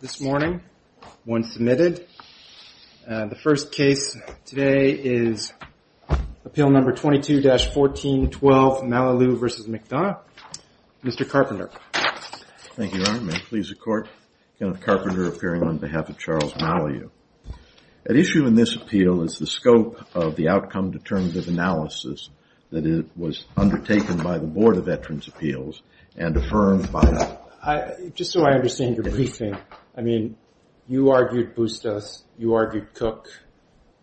This morning, one submitted. The first case today is appeal number 22-1412 Malalieu v. McDonough. Mr. Carpenter. Thank you, Your Honor. May it please the Court. Kenneth Carpenter appearing on behalf of Charles Malalieu. At issue in this appeal is the scope of the outcome determinative analysis that was undertaken by the Board of Veterans' Appeals and affirmed by the judge. Mr. McDonough. Just so I understand your briefing, I mean, you argued Bustos, you argued Cook,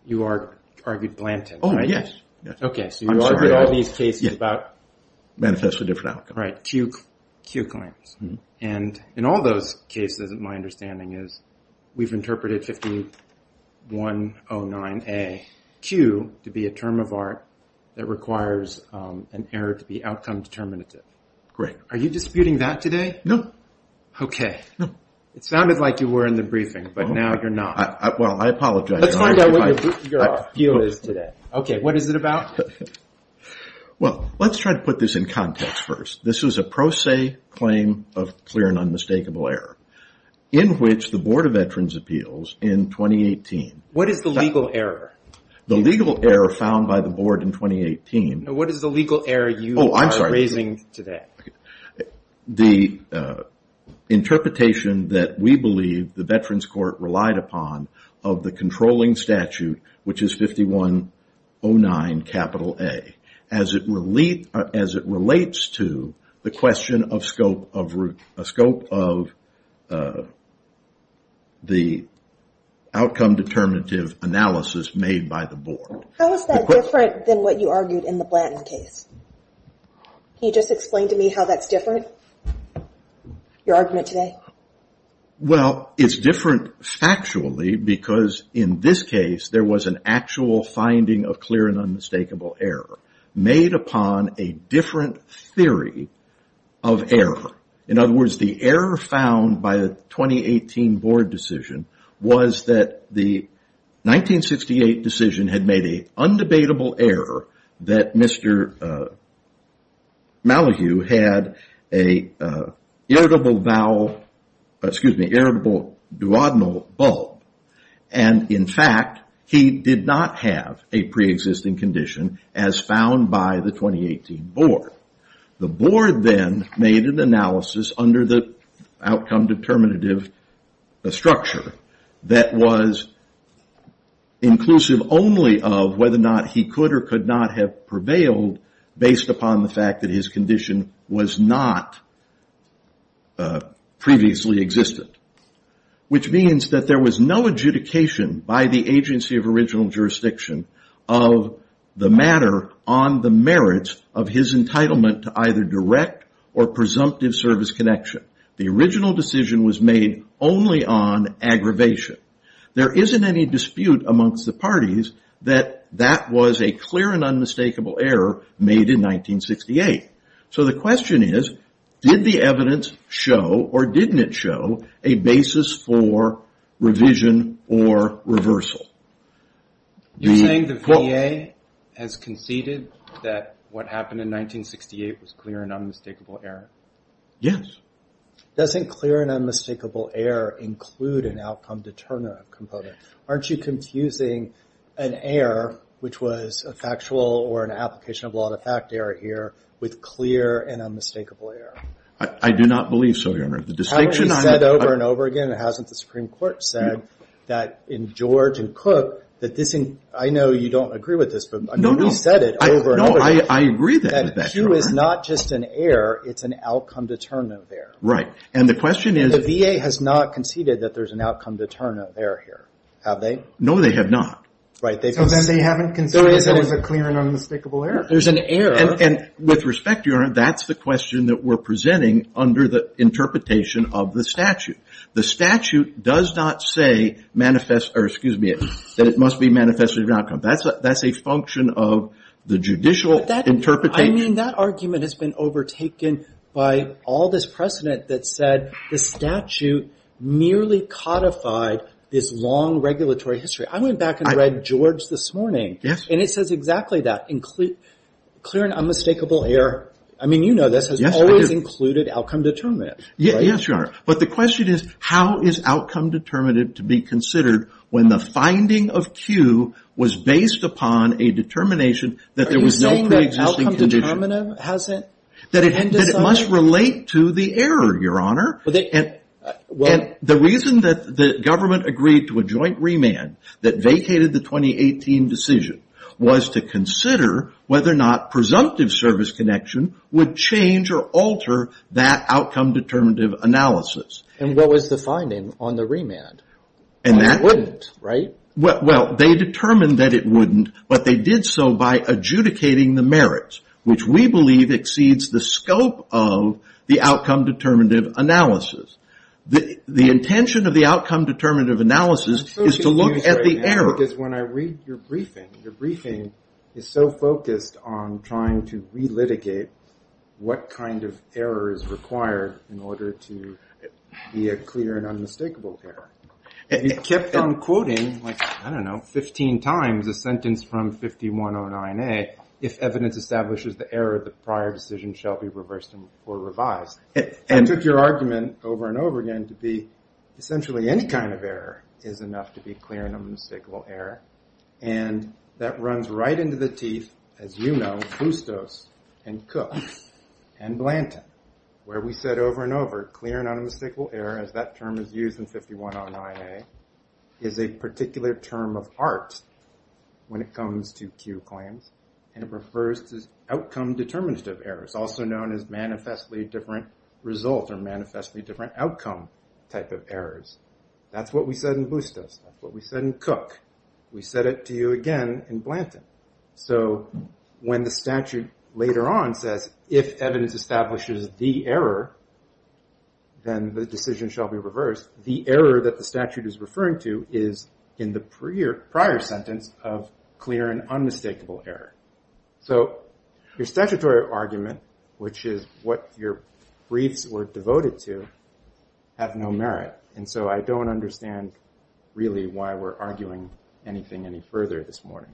you argued Blanton, right? Kenneth Carpenter. Oh, yes. Yes. I'm sorry. Mr. McDonough. Okay, so you argued all these cases about Kenneth Carpenter. Manifest a different outcome. Mr. McDonough. Right, Q claims. And in all those cases, my understanding is we've interpreted 5109-A-Q to be a term of art that requires an error to be outcome determinative. Kenneth Carpenter. Great. Mr. McDonough. Are you disputing that today? Kenneth Carpenter. No. Mr. McDonough. Okay. Kenneth Carpenter. No. Mr. McDonough. It sounded like you were in the briefing, but now you're not. Kenneth Carpenter. Well, I apologize. Mr. McDonough. Let's find out what your appeal is today. Okay, what is it about? Kenneth Carpenter. Well, let's try to put this in context first. This is a pro se claim of clear and unmistakable error in which the Board of Veterans' Appeals in 2018. Mr. McDonough. What is the legal error? Kenneth Carpenter. The legal error found by the Board in 2018. Mr. McDonough. What is the legal error you are raising today? Kenneth Carpenter. Oh, I'm sorry. The interpretation that we believe the Veterans Court relied upon of the controlling statute, which is 5109-A, as it relates to the question of scope of the outcome determinative analysis made by the Board. The question... How is that different than what you argued in the Blanton case? Can you just explain to me how that's different, your argument today? Kenneth Carpenter. Well, it's different factually because in this case, there was an actual finding of clear and unmistakable error made upon a different theory of error. In other words, the error found by the 2018 Board decision was that the 1968 decision had made a undebatable error that Mr. Malahue had an irritable duodenal bulb. In fact, he did not have a preexisting condition as found by the 2018 Board. The Board then made an analysis under the outcome determinative structure that was inclusive only of whether or not he could or could not have prevailed based upon the fact that his condition was not previously existed. Which means that there was no adjudication by the agency of original jurisdiction of the matter on the merits of his entitlement to either direct or presumptive service connection. The original decision was made only on aggravation. There isn't any dispute amongst the parties that that was a clear and unmistakable error made in 1968. So the question is, did the evidence show or didn't it show a basis for revision or reversal? You're saying the VA has conceded that what happened in 1968 was clear and unmistakable error? Yes. Doesn't clear and unmistakable error include an outcome determinative component? Aren't you confusing an error, which was a factual or an application of law to fact error here, with clear and unmistakable error? I do not believe so, Your Honor. The distinction... I've already said over and over again, and hasn't the Supreme Court said that in George and Cook that this... I know you don't agree with this, but we said it over and over again. No, I agree with that, Your Honor. That Q is not just an error, it's an outcome determinative error. Right. And the question is... The VA has not conceded that there's an outcome determinative error here. Have they? No, they have not. Right. They've... So then they haven't conceded that it was a clear and unmistakable error. There's an error... And with respect, Your Honor, that's the question that we're presenting under the interpretation of the statute. The statute does not say manifest... Or excuse me, that it must be manifested as an outcome. That's a function of the judicial interpretation. But that... I mean, that argument has been overtaken by all this precedent that said the statute merely codified this long regulatory history. I went back and read George this morning. Yes. And it says exactly that. Clear and unmistakable error... I mean, you know this... Yes, I do. Has included outcome determinative, right? Yes, Your Honor. But the question is, how is outcome determinative to be considered when the finding of Q was based upon a determination that there was no pre-existing condition? Are you saying that outcome determinative hasn't been decided? That it must relate to the error, Your Honor. Well, they... And the reason that the government agreed to a joint remand that vacated the 2018 decision was to consider whether or not presumptive service connection would change or alter that outcome determinative analysis. And what was the finding on the remand? And that... Why it wouldn't, right? Well, they determined that it wouldn't, but they did so by adjudicating the merits, which we believe exceeds the scope of the outcome determinative analysis. The intention of the outcome determinative analysis is to look at the error. Because when I read your briefing, your briefing is so focused on trying to relitigate what kind of error is required in order to be a clear and unmistakable error. You kept on quoting like, I don't know, 15 times a sentence from 5109A, if evidence establishes the error, the prior decision shall be reversed or revised. And took your argument over and over again to be essentially any kind of error is enough to be clear and unmistakable error. And that runs right into the teeth, as you know, Bustos and Cook and Blanton, where we said over and over, clear and unmistakable error, as that term is used in 5109A, is a particular term of art when it comes to Q claims. And it refers to outcome determinative errors, also known as manifestly different results or manifestly different outcome type of errors. That's what we said in Bustos. That's what we said in Cook. We said it to you again in Blanton. So when the statute later on says, if evidence establishes the error, then the decision shall be reversed, the error that the statute is referring to is in the prior sentence of clear and unmistakable error. So your statutory argument, which is what your briefs were devoted to, have no merit. And so I don't understand really why we're arguing anything any further this morning.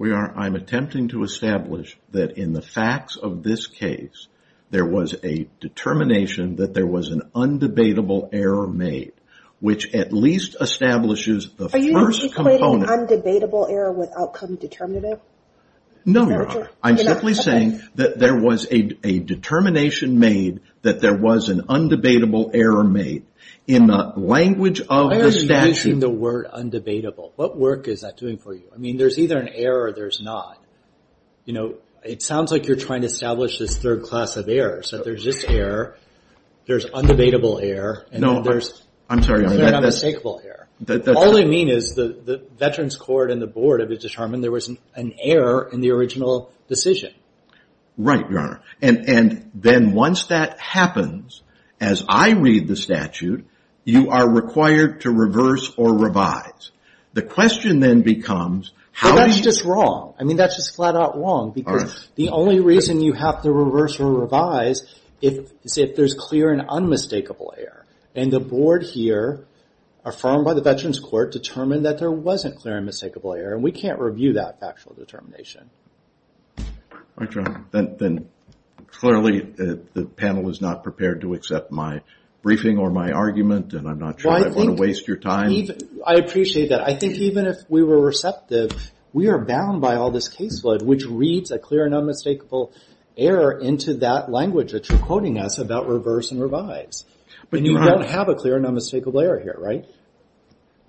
I'm attempting to establish that in the facts of this case, there was a determination that there was an undebatable error made, which at least establishes the first component... Are you equating undebatable error with outcome determinative? No, I'm simply saying that there was a determination made that there was an undebatable error made in the language of the statute. Why are you using the word undebatable? What work is that doing for you? I mean, there's either an error or there's not. You know, it sounds like you're trying to establish this third class of errors, that there's this error, there's undebatable error, and there's clear and unmistakable error. All I mean is the Veterans Court and the Board have determined there was an error in the original decision. Right, Your Honor. And then once that happens, as I read the statute, you are required to reverse or revise. The question then becomes... But that's just wrong. I mean, that's just flat out wrong. All right. The only reason you have to reverse or revise is if there's clear and unmistakable error. And the Board here, affirmed by the Veterans Court, determined that there wasn't clear and unmistakable error. And we can't review that factual determination. Then clearly, the panel is not prepared to accept my briefing or my argument, and I'm not sure I want to waste your time. I appreciate that. I think even if we were receptive, we are bound by all this caseload, which reads a clear and unmistakable error into that language that you're quoting us about reverse and revise. And you don't have a clear and unmistakable error here, right?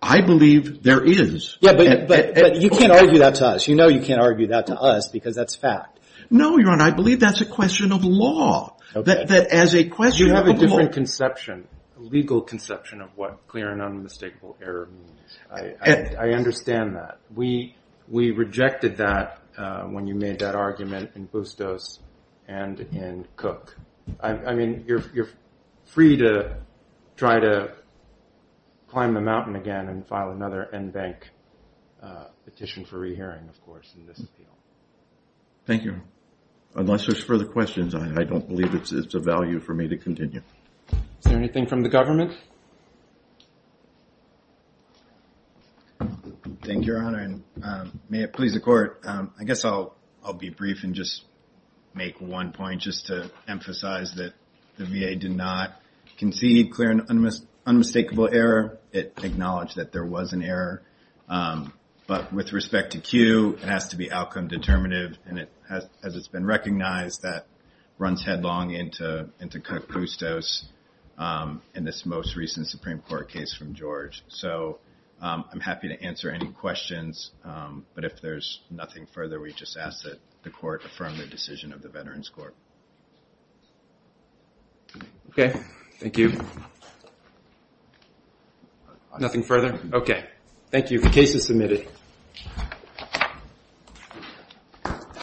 I believe there is. Yeah, but you can't argue that to us. You know you can't argue that to us because that's fact. No, Your Honor, I believe that's a question of law. That as a question of law... You have a different conception, a legal conception of what clear and unmistakable error means. I understand that. We rejected that when you made that argument in Bustos and in Cook. I mean, you're free to try to climb the mountain again and file another NBank petition for rehearing, of course, in this field. Thank you. Unless there's further questions, I don't believe it's of value for me to continue. Is there anything from the government? Thank you, Your Honor, and may it please the court. I guess I'll be brief and just make one point just to emphasize that the VA did not concede clear and unmistakable error. It acknowledged that there was an error, but with respect to Q, it has to be outcome determinative, and as it's been recognized, that runs headlong into Cook-Bustos in this most recent Supreme Court case from George. So I'm happy to answer any questions, but if there's nothing further, we just ask that the court affirm the decision of the Veterans Court. Okay, thank you. Nothing further? Okay. Thank you. The case is submitted.